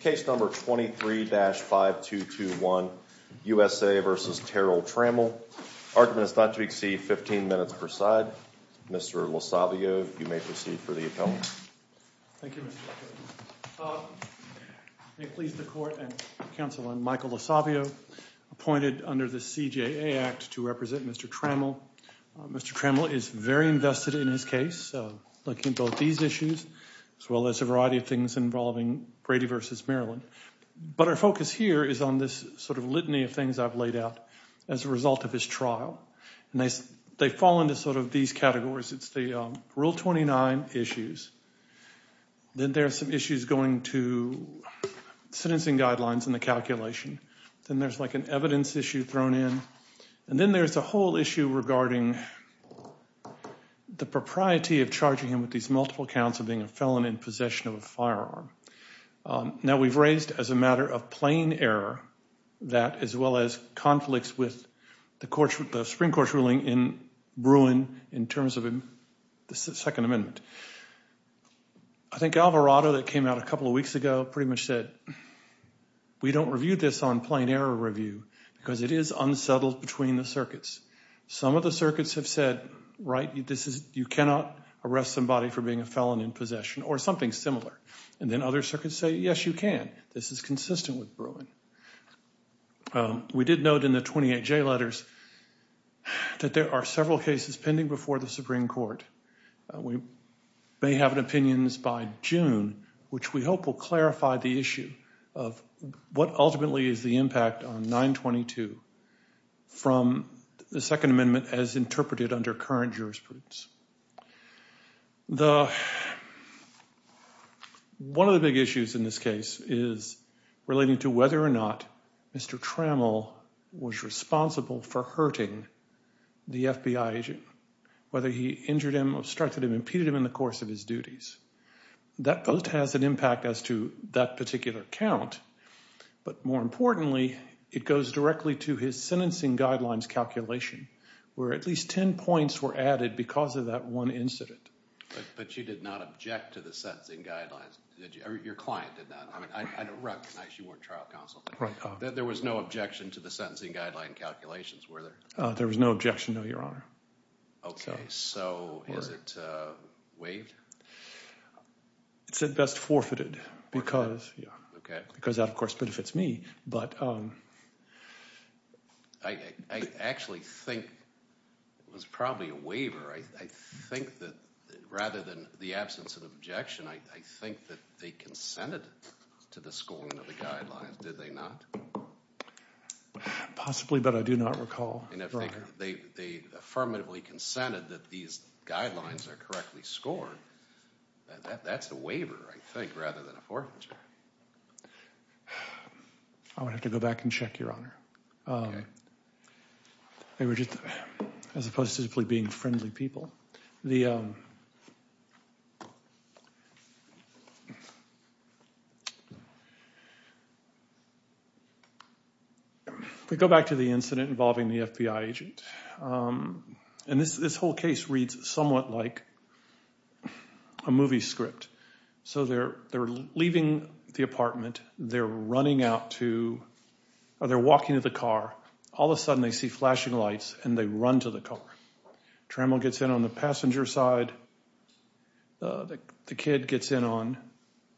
Case number 23-5221, USA v. Terrell Trammell. Argument is not to exceed 15 minutes per side. Mr. LoSavio, you may proceed for the appellant. Thank you, Mr. Attorney. May it please the Court and Counsel, I'm Michael LoSavio, appointed under the CJA Act to represent Mr. Trammell. Mr. Trammell is very invested in his case, so looking at both these issues as well as a variety of things involving Brady v. Maryland. But our focus here is on this sort of litany of things I've laid out as a result of his trial. And they fall into sort of these categories. It's the Rule 29 issues. Then there are some issues going to sentencing guidelines and the calculation. Then there's like an evidence issue thrown in. And then there's a whole issue regarding the propriety of charging him with these multiple counts of being a felon in possession of a firearm. Now, we've raised as a matter of plain error that as well as conflicts with the Supreme Court's ruling in Bruin in terms of the Second Amendment. I think Alvarado that came out a couple of weeks ago pretty much said, we don't review this on plain error review because it is unsettled between the circuits. Some of the circuits have said, right, you cannot arrest somebody for being a felon in possession or something similar. And then other circuits say, yes, you can. This is consistent with Bruin. We did note in the 28J letters that there are several cases pending before the Supreme Court. We may have opinions by June, which we hope will clarify the issue of what ultimately is the impact on 922 from the Second Amendment as interpreted under current jurisprudence. One of the big issues in this case is relating to whether or not Mr. Trammell was responsible for hurting the FBI agent. Whether he injured him, obstructed him, impeded him in the course of his duties. That both has an impact as to that particular count. But more importantly, it goes directly to his sentencing guidelines calculation where at least 10 points were added because of that one incident. But you did not object to the sentencing guidelines. Your client did that. I mean, I recognize you weren't trial counsel. There was no objection to the sentencing guideline calculations, were there? There was no objection, no, Your Honor. Okay, so is it waived? It's at best forfeited because that, of course, benefits me. I actually think it was probably a waiver. I think that rather than the absence of objection, I think that they consented to the scoring of the guidelines, did they not? Possibly, but I do not recall, Your Honor. They affirmatively consented that these guidelines are correctly scored. That's a waiver, I think, rather than a forfeiture. I would have to go back and check, Your Honor. As opposed to simply being friendly people. If we go back to the incident involving the FBI agent, and this whole case reads somewhat like a movie script. So they're leaving the apartment. They're running out to, or they're walking to the car. All of a sudden, they see flashing lights, and they run to the car. Trammell gets in on the passenger side. The kid gets in on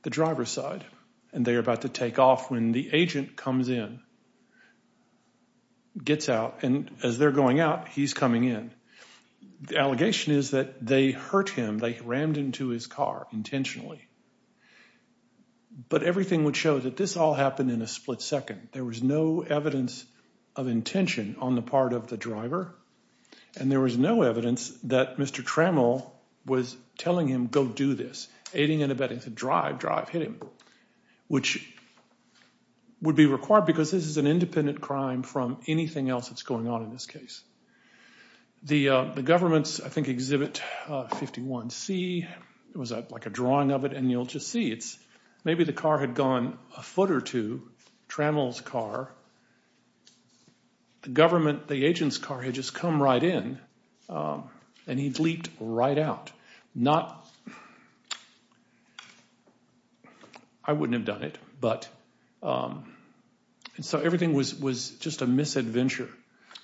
the driver's side. And they're about to take off when the agent comes in. Gets out, and as they're going out, he's coming in. The allegation is that they hurt him. They rammed into his car intentionally. But everything would show that this all happened in a split second. There was no evidence of intention on the part of the driver. And there was no evidence that Mr. Trammell was telling him, go do this. Aiding and abetting to drive, drive, hit him, which would be required because this is an independent crime from anything else that's going on in this case. The government's, I think, Exhibit 51C. It was like a drawing of it, and you'll just see. Maybe the car had gone a foot or two, Trammell's car. The government, the agent's car, had just come right in, and he'd leaped right out. Not... I wouldn't have done it, but... And so everything was just a misadventure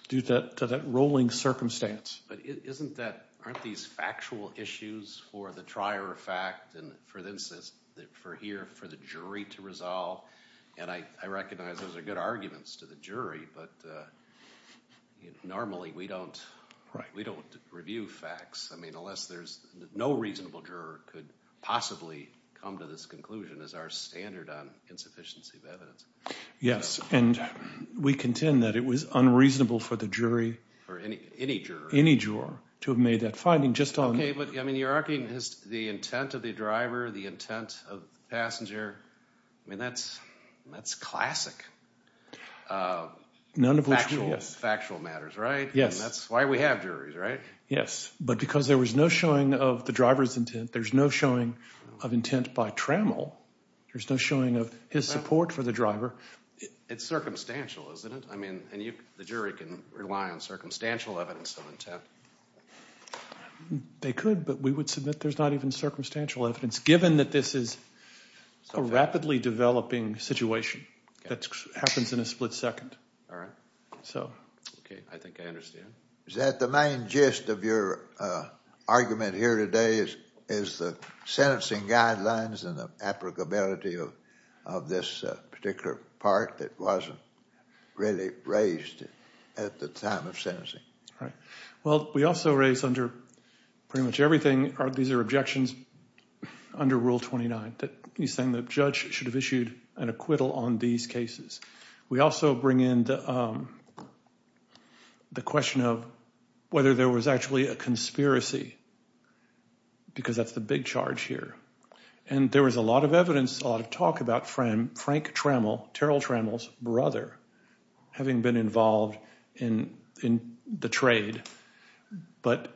due to that rolling circumstance. But isn't that, aren't these factual issues for the trier of fact, and for the jury to resolve? And I recognize those are good arguments to the jury, but normally we don't review facts. I mean, unless there's, no reasonable juror could possibly come to this conclusion as our standard on insufficiency of evidence. Yes, and we contend that it was unreasonable for the jury... For any juror. Any juror to have made that finding just on... Okay, but I mean, you're arguing the intent of the driver, the intent of the passenger. I mean, that's classic. None of which we... Factual matters, right? Yes. And that's why we have juries, right? Yes, but because there was no showing of the driver's intent, there's no showing of intent by Trammell. There's no showing of his support for the driver. It's circumstantial, isn't it? I mean, and the jury can rely on circumstantial evidence of intent. They could, but we would submit there's not even circumstantial evidence, given that this is a rapidly developing situation that happens in a split second. All right. So... Okay, I think I understand. Is that the main gist of your argument here today, is the sentencing guidelines and the applicability of this particular part that wasn't really raised at the time of sentencing? Right. Well, we also raised under pretty much everything, these are objections under Rule 29, that he's saying the judge should have issued an acquittal on these cases. We also bring in the question of whether there was actually a conspiracy, because that's the big charge here. And there was a lot of evidence, a lot of talk about Frank Trammell, Terrell Trammell's brother, having been involved in the trade. But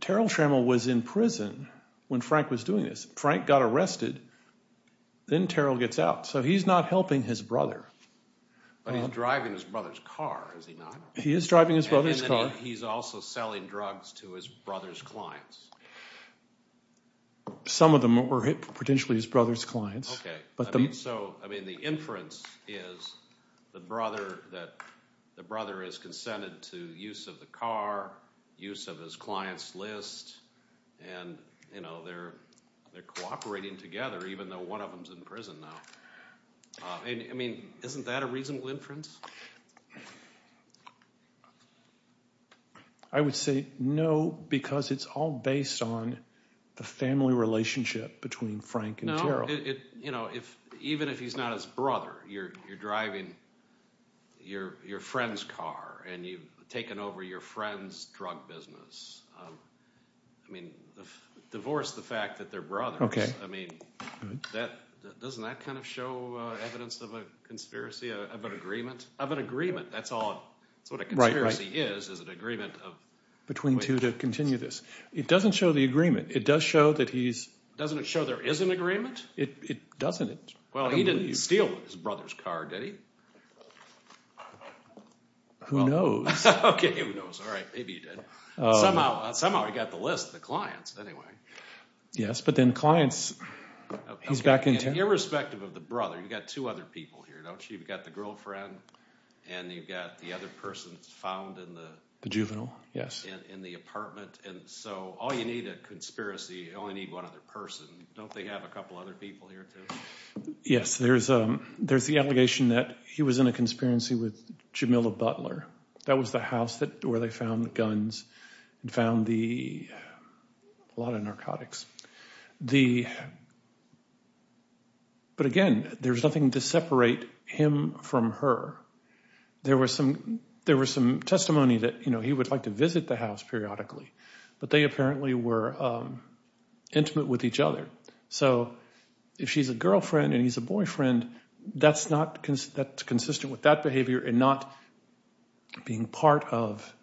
Terrell Trammell was in prison when Frank was doing this. Frank got arrested, then Terrell gets out. So he's not helping his brother. But he's driving his brother's car, is he not? He is driving his brother's car. And then he's also selling drugs to his brother's clients. Some of them were potentially his brother's clients. So, I mean, the inference is the brother is consented to use of the car, use of his client's list, and they're cooperating together, even though one of them is in prison now. I mean, isn't that a reasonable inference? I would say no, because it's all based on the family relationship between Frank and Terrell. No, even if he's not his brother, you're driving your friend's car, and you've taken over your friend's drug business. I mean, divorce the fact that they're brothers. I mean, doesn't that kind of show evidence of a conspiracy, of an agreement? Of an agreement, that's all. That's what a conspiracy is, is an agreement of— Between two to continue this. It doesn't show the agreement. It does show that he's— Doesn't it show there is an agreement? It doesn't. Well, he didn't steal his brother's car, did he? Who knows? Okay, who knows. All right, maybe he did. Somehow he got the list of the clients anyway. Yes, but then clients— He's back in town. Okay, and irrespective of the brother, you've got two other people here, don't you? You've got the girlfriend, and you've got the other person found in the— The juvenile, yes. In the apartment, and so all you need, a conspiracy, you only need one other person. Don't they have a couple other people here, too? Yes, there's the allegation that he was in a conspiracy with Jamila Butler. That was the house where they found the guns and found a lot of narcotics. But again, there's nothing to separate him from her. There was some testimony that he would like to visit the house periodically, but they apparently were intimate with each other. So if she's a girlfriend and he's a boyfriend, that's consistent with that behavior and not being part of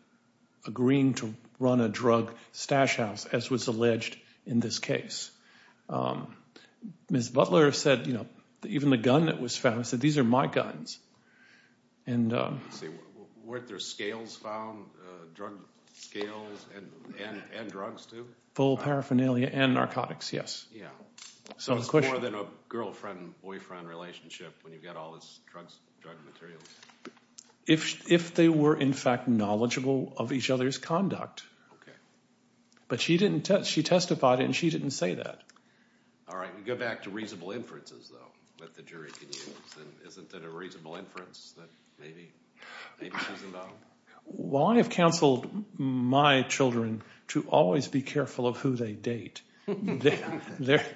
agreeing to run a drug stash house, as was alleged in this case. Ms. Butler said that even the gun that was found, she said, these are my guns. Weren't there scales found, drug scales and drugs, too? Full paraphernalia and narcotics, yes. So it's more than a girlfriend-boyfriend relationship when you've got all this drug materials. If they were, in fact, knowledgeable of each other's conduct. But she testified and she didn't say that. All right, we go back to reasonable inferences, though, that the jury can use. Isn't that a reasonable inference that maybe she's involved? Well, I have counseled my children to always be careful of who they date. That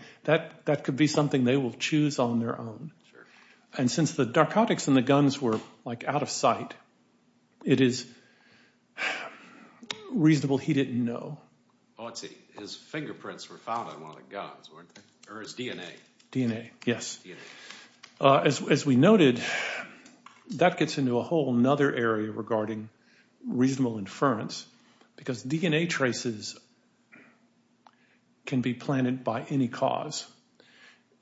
could be something they will choose on their own. And since the narcotics in the guns were out of sight, it is reasonable he didn't know. Oh, I see. His fingerprints were found on one of the guns, weren't they? Or his DNA? DNA, yes. As we noted, that gets into a whole other area regarding reasonable inference because DNA traces can be planted by any cause.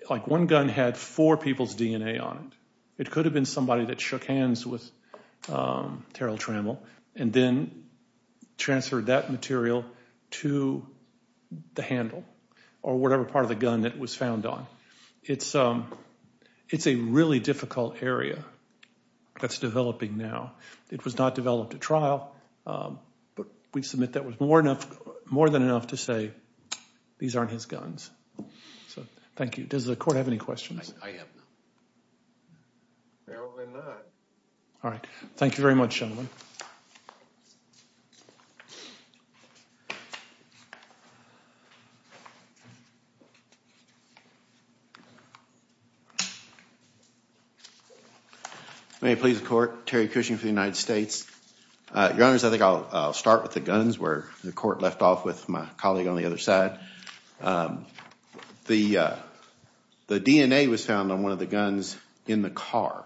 Like one gun had four people's DNA on it. It could have been somebody that shook hands with Terrell Trammell and then transferred that material to the handle or whatever part of the gun it was found on. It's a really difficult area that's developing now. It was not developed at trial, but we submit that was more than enough to say, these aren't his guns. So thank you. Does the court have any questions? I have none. Apparently not. All right. Thank you very much, gentlemen. May it please the court. Terry Cushing for the United States. Your Honors, I think I'll start with the guns where the court left off with my colleague on the other side. The DNA was found on one of the guns in the car.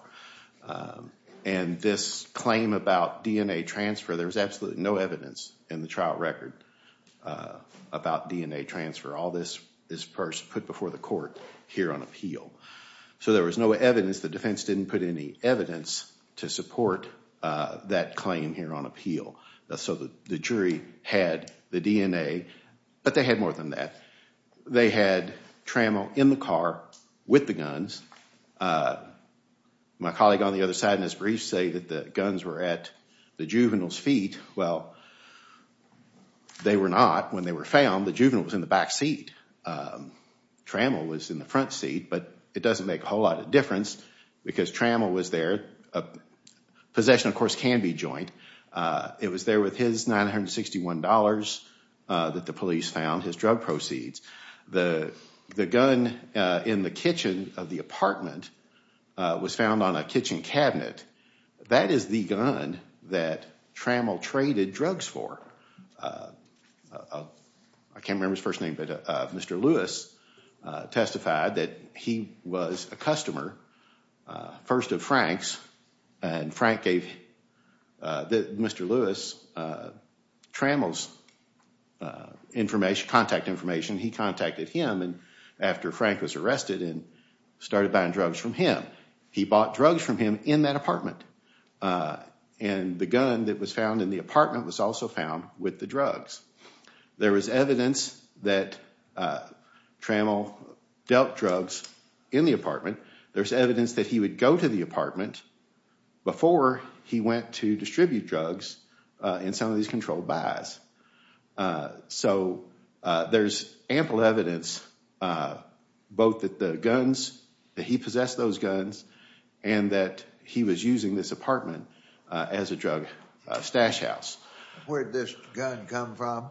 And this claim about DNA transfer, there was absolutely no evidence in the trial record about DNA transfer. All this is first put before the court here on appeal. So there was no evidence. The defense didn't put any evidence to support that claim here on appeal. So the jury had the DNA, but they had more than that. They had Trammell in the car with the guns. My colleague on the other side in his briefs say that the guns were at the juvenile's feet. Well, they were not when they were found. The juvenile was in the back seat. Trammell was in the front seat, but it doesn't make a whole lot of difference because Trammell was there. Possession, of course, can be joint. It was there with his $961 that the police found, his drug proceeds. The gun in the kitchen of the apartment was found on a kitchen cabinet. That is the gun that Trammell traded drugs for. I can't remember his first name, but Mr. Lewis testified that he was a customer, first of Frank's. And Frank gave Mr. Lewis Trammell's contact information. He contacted him after Frank was arrested and started buying drugs from him. He bought drugs from him in that apartment. And the gun that was found in the apartment was also found with the drugs. There was evidence that Trammell dealt drugs in the apartment. There's evidence that he would go to the apartment before he went to distribute drugs in some of these controlled buys. So there's ample evidence both that the guns, that he possessed those guns, and that he was using this apartment as a drug stash house. Where did this gun come from?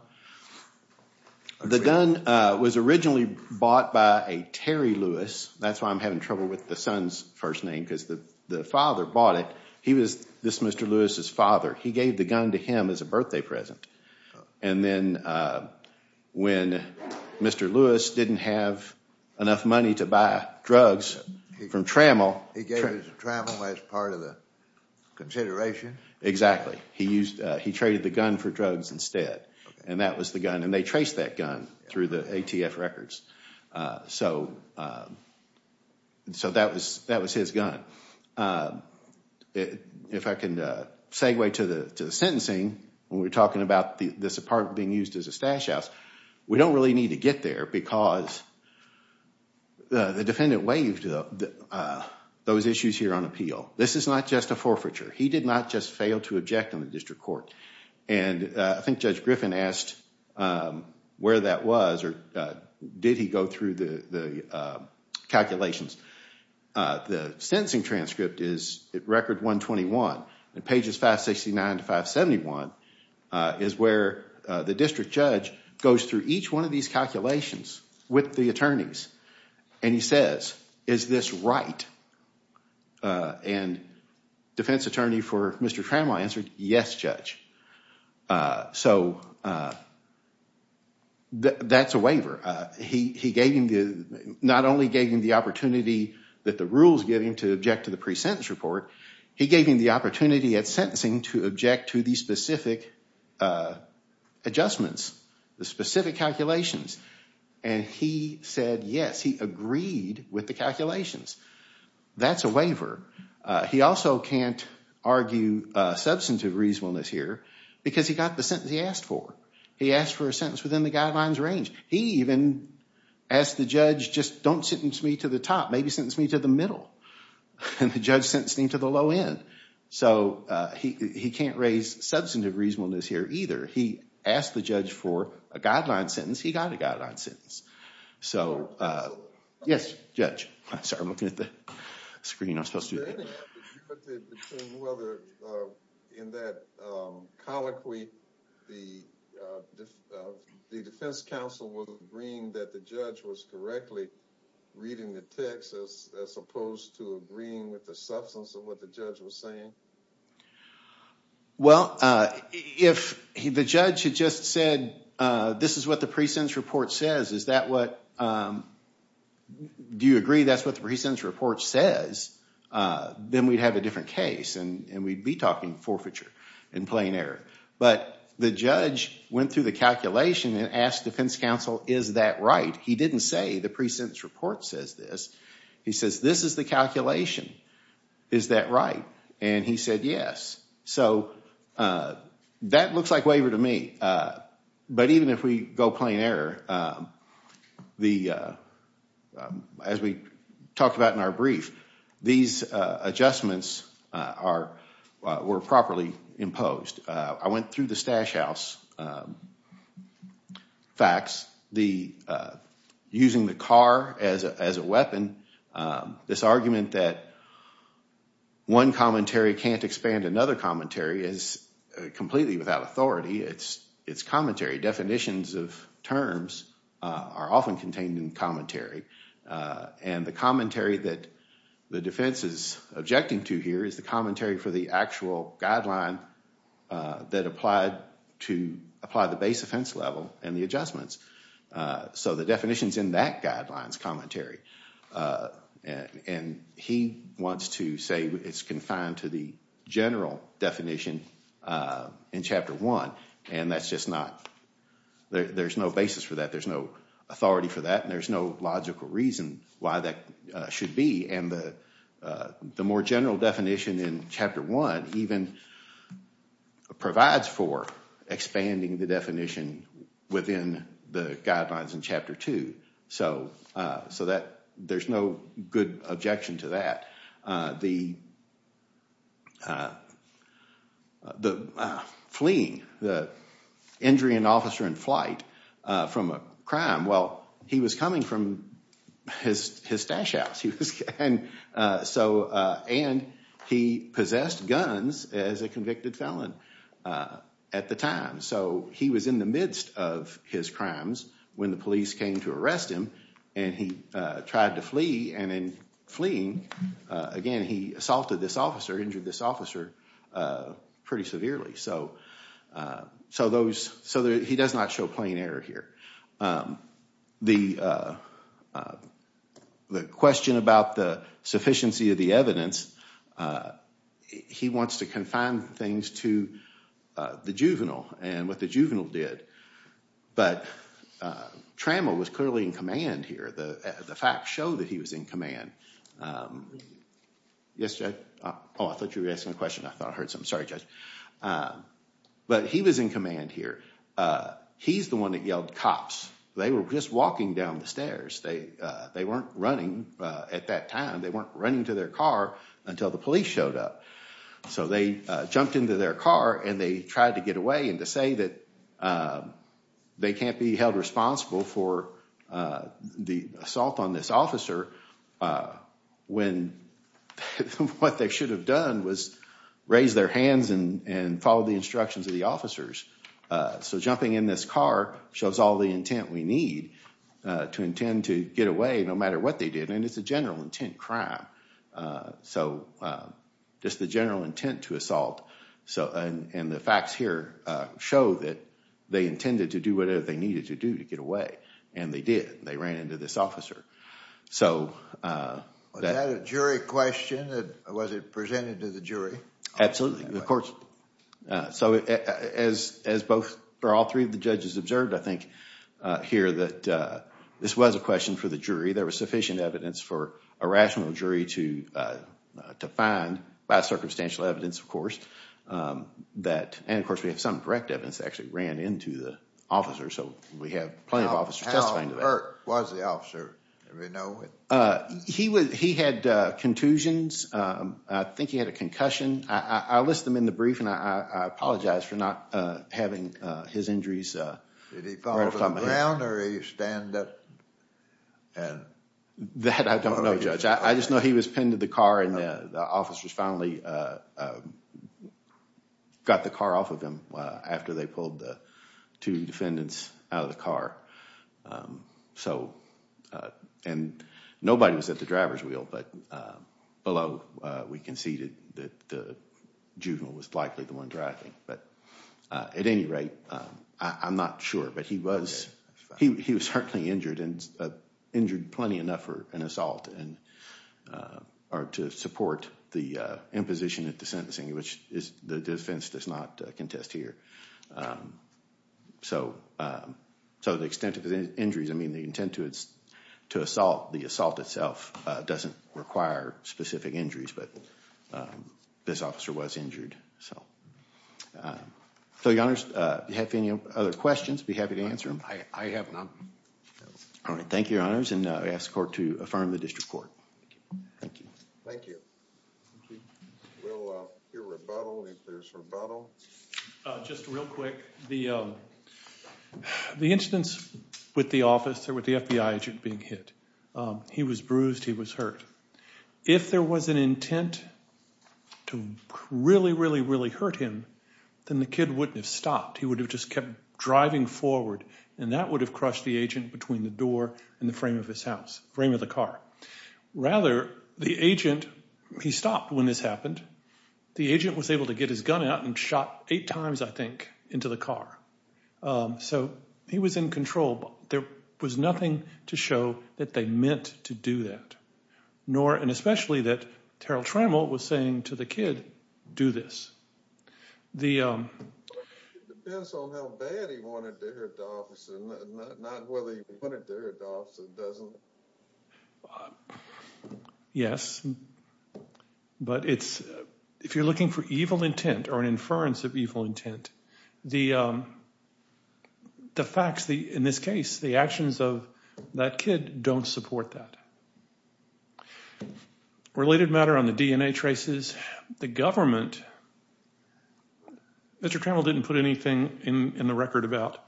The gun was originally bought by a Terry Lewis. That's why I'm having trouble with the son's first name because the father bought it. He was Mr. Lewis's father. He gave the gun to him as a birthday present. And then when Mr. Lewis didn't have enough money to buy drugs from Trammell. He gave it to Trammell as part of the consideration? Exactly. He traded the gun for drugs instead. And that was the gun. And they traced that gun through the ATF records. So that was his gun. If I can segue to the sentencing when we're talking about this apartment being used as a stash house. We don't really need to get there because the defendant waived those issues here on appeal. This is not just a forfeiture. He did not just fail to object on the district court. And I think Judge Griffin asked where that was or did he go through the calculations. The sentencing transcript is record 121. And pages 569 to 571 is where the district judge goes through each one of these calculations with the attorneys. And he says, is this right? And defense attorney for Mr. Trammell answered, yes, judge. So that's a waiver. He not only gave him the opportunity that the rules give him to object to the pre-sentence report. He gave him the opportunity at sentencing to object to the specific adjustments, the specific calculations. And he said, yes, he agreed with the calculations. That's a waiver. He also can't argue substantive reasonableness here because he got the sentence he asked for. He asked for a sentence within the guidelines range. He even asked the judge, just don't sentence me to the top. Maybe sentence me to the middle. And the judge sentenced him to the low end. So he can't raise substantive reasonableness here either. He asked the judge for a guideline sentence. He got a guideline sentence. So yes, judge. Sorry, I'm looking at the screen. I'm supposed to do that. In that colloquy, the defense counsel was agreeing that the judge was correctly reading the text as opposed to agreeing with the substance of what the judge was saying? Well, if the judge had just said, this is what the pre-sentence report says, is that what, do you agree that's what the pre-sentence report says? Then we'd have a different case and we'd be talking forfeiture and plain error. But the judge went through the calculation and asked defense counsel, is that right? He didn't say the pre-sentence report says this. He says, this is the calculation. Is that right? And he said, yes. So that looks like waiver to me. But even if we go plain error, as we talked about in our brief, these adjustments were properly imposed. I went through the Stash House facts. Using the car as a weapon, this argument that one commentary can't expand another commentary is completely without authority. It's commentary. Definitions of terms are often contained in commentary. And the commentary that the defense is objecting to here is the commentary for the actual guideline that applied to apply the base offense level and the adjustments. So the definition's in that guideline's commentary. And he wants to say it's confined to the general definition in Chapter 1. And that's just not, there's no basis for that. There's no authority for that. And there's no logical reason why that should be. And the more general definition in Chapter 1 even provides for expanding the definition within the guidelines in Chapter 2. So there's no good objection to that. The fleeing, the injury an officer in flight from a crime, well, he was coming from his Stash House. And he possessed guns as a convicted felon at the time. So he was in the midst of his crimes when the police came to arrest him. And he tried to flee. And in fleeing, again, he assaulted this officer, injured this officer pretty severely. So he does not show plain error here. The question about the sufficiency of the evidence, he wants to confine things to the juvenile and what the juvenile did. But Trammell was clearly in command here. The facts show that he was in command. Yes, Judge? Oh, I thought you were asking a question. I thought I heard something. Sorry, Judge. But he was in command here. He's the one that yelled, cops. They were just walking down the stairs. They weren't running at that time. They weren't running to their car until the police showed up. So they jumped into their car and they tried to get away and to say that they can't be held responsible for the assault on this officer when what they should have done was raise their hands and follow the instructions of the officers. So jumping in this car shows all the intent we need to intend to get away no matter what they did. And it's a general intent crime. So just the general intent to assault. And the facts here show that they intended to do whatever they needed to do to get away. And they did. They ran into this officer. Was that a jury question? Was it presented to the jury? Absolutely. So as all three of the judges observed, I think, here, that this was a question for the jury. There was sufficient evidence for a rational jury to find, by circumstantial evidence, of course. And, of course, we have some correct evidence that actually ran into the officer. So we have plenty of officers testifying to that. How hurt was the officer? He had contusions. I think he had a concussion. I list them in the brief and I apologize for not having his injuries right off the top of my head. That I don't know, Judge. I just know he was pinned to the car and the officers finally got the car off of him after they pulled the two defendants out of the car. And nobody was at the driver's wheel. But below, we conceded that the juvenile was likely the one driving. At any rate, I'm not sure. But he was certainly injured. And injured plenty enough for an assault to support the imposition at the sentencing, which the defense does not contest here. So the extent of his injuries, I mean, the intent to assault, the assault itself, doesn't require specific injuries. But this officer was injured. So, Your Honors, if you have any other questions, I'd be happy to answer them. I have none. All right. Thank you, Your Honors. And I ask the court to affirm the district court. Thank you. Thank you. Thank you. We'll hear rebuttal if there's rebuttal. Just real quick. The instance with the officer, with the FBI agent being hit, he was bruised, he was hurt. If there was an intent to really, really, really hurt him, then the kid wouldn't have stopped. He would have just kept driving forward, and that would have crushed the agent between the door and the frame of his house, frame of the car. Rather, the agent, he stopped when this happened. The agent was able to get his gun out and shot eight times, I think, into the car. So he was in control. There was nothing to show that they meant to do that, and especially that Terrell Trammell was saying to the kid, do this. It depends on how bad he wanted to hurt the officer, not whether he wanted to hurt the officer or doesn't. Yes. But it's, if you're looking for evil intent or an inference of evil intent, the facts, in this case, the actions of that kid don't support that. Related matter on the DNA traces, the government, Mr. Trammell didn't put anything in the record about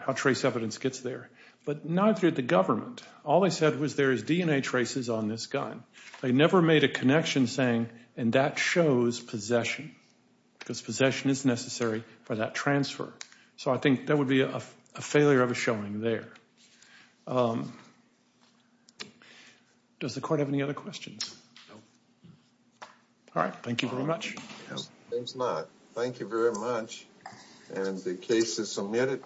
how trace evidence gets there, but neither did the government. All they said was there is DNA traces on this gun. They never made a connection saying, and that shows possession, because possession is necessary for that transfer. So I think that would be a failure of a showing there. Does the court have any other questions? No. All right. Thank you very much. Thank you very much, and the case is submitted.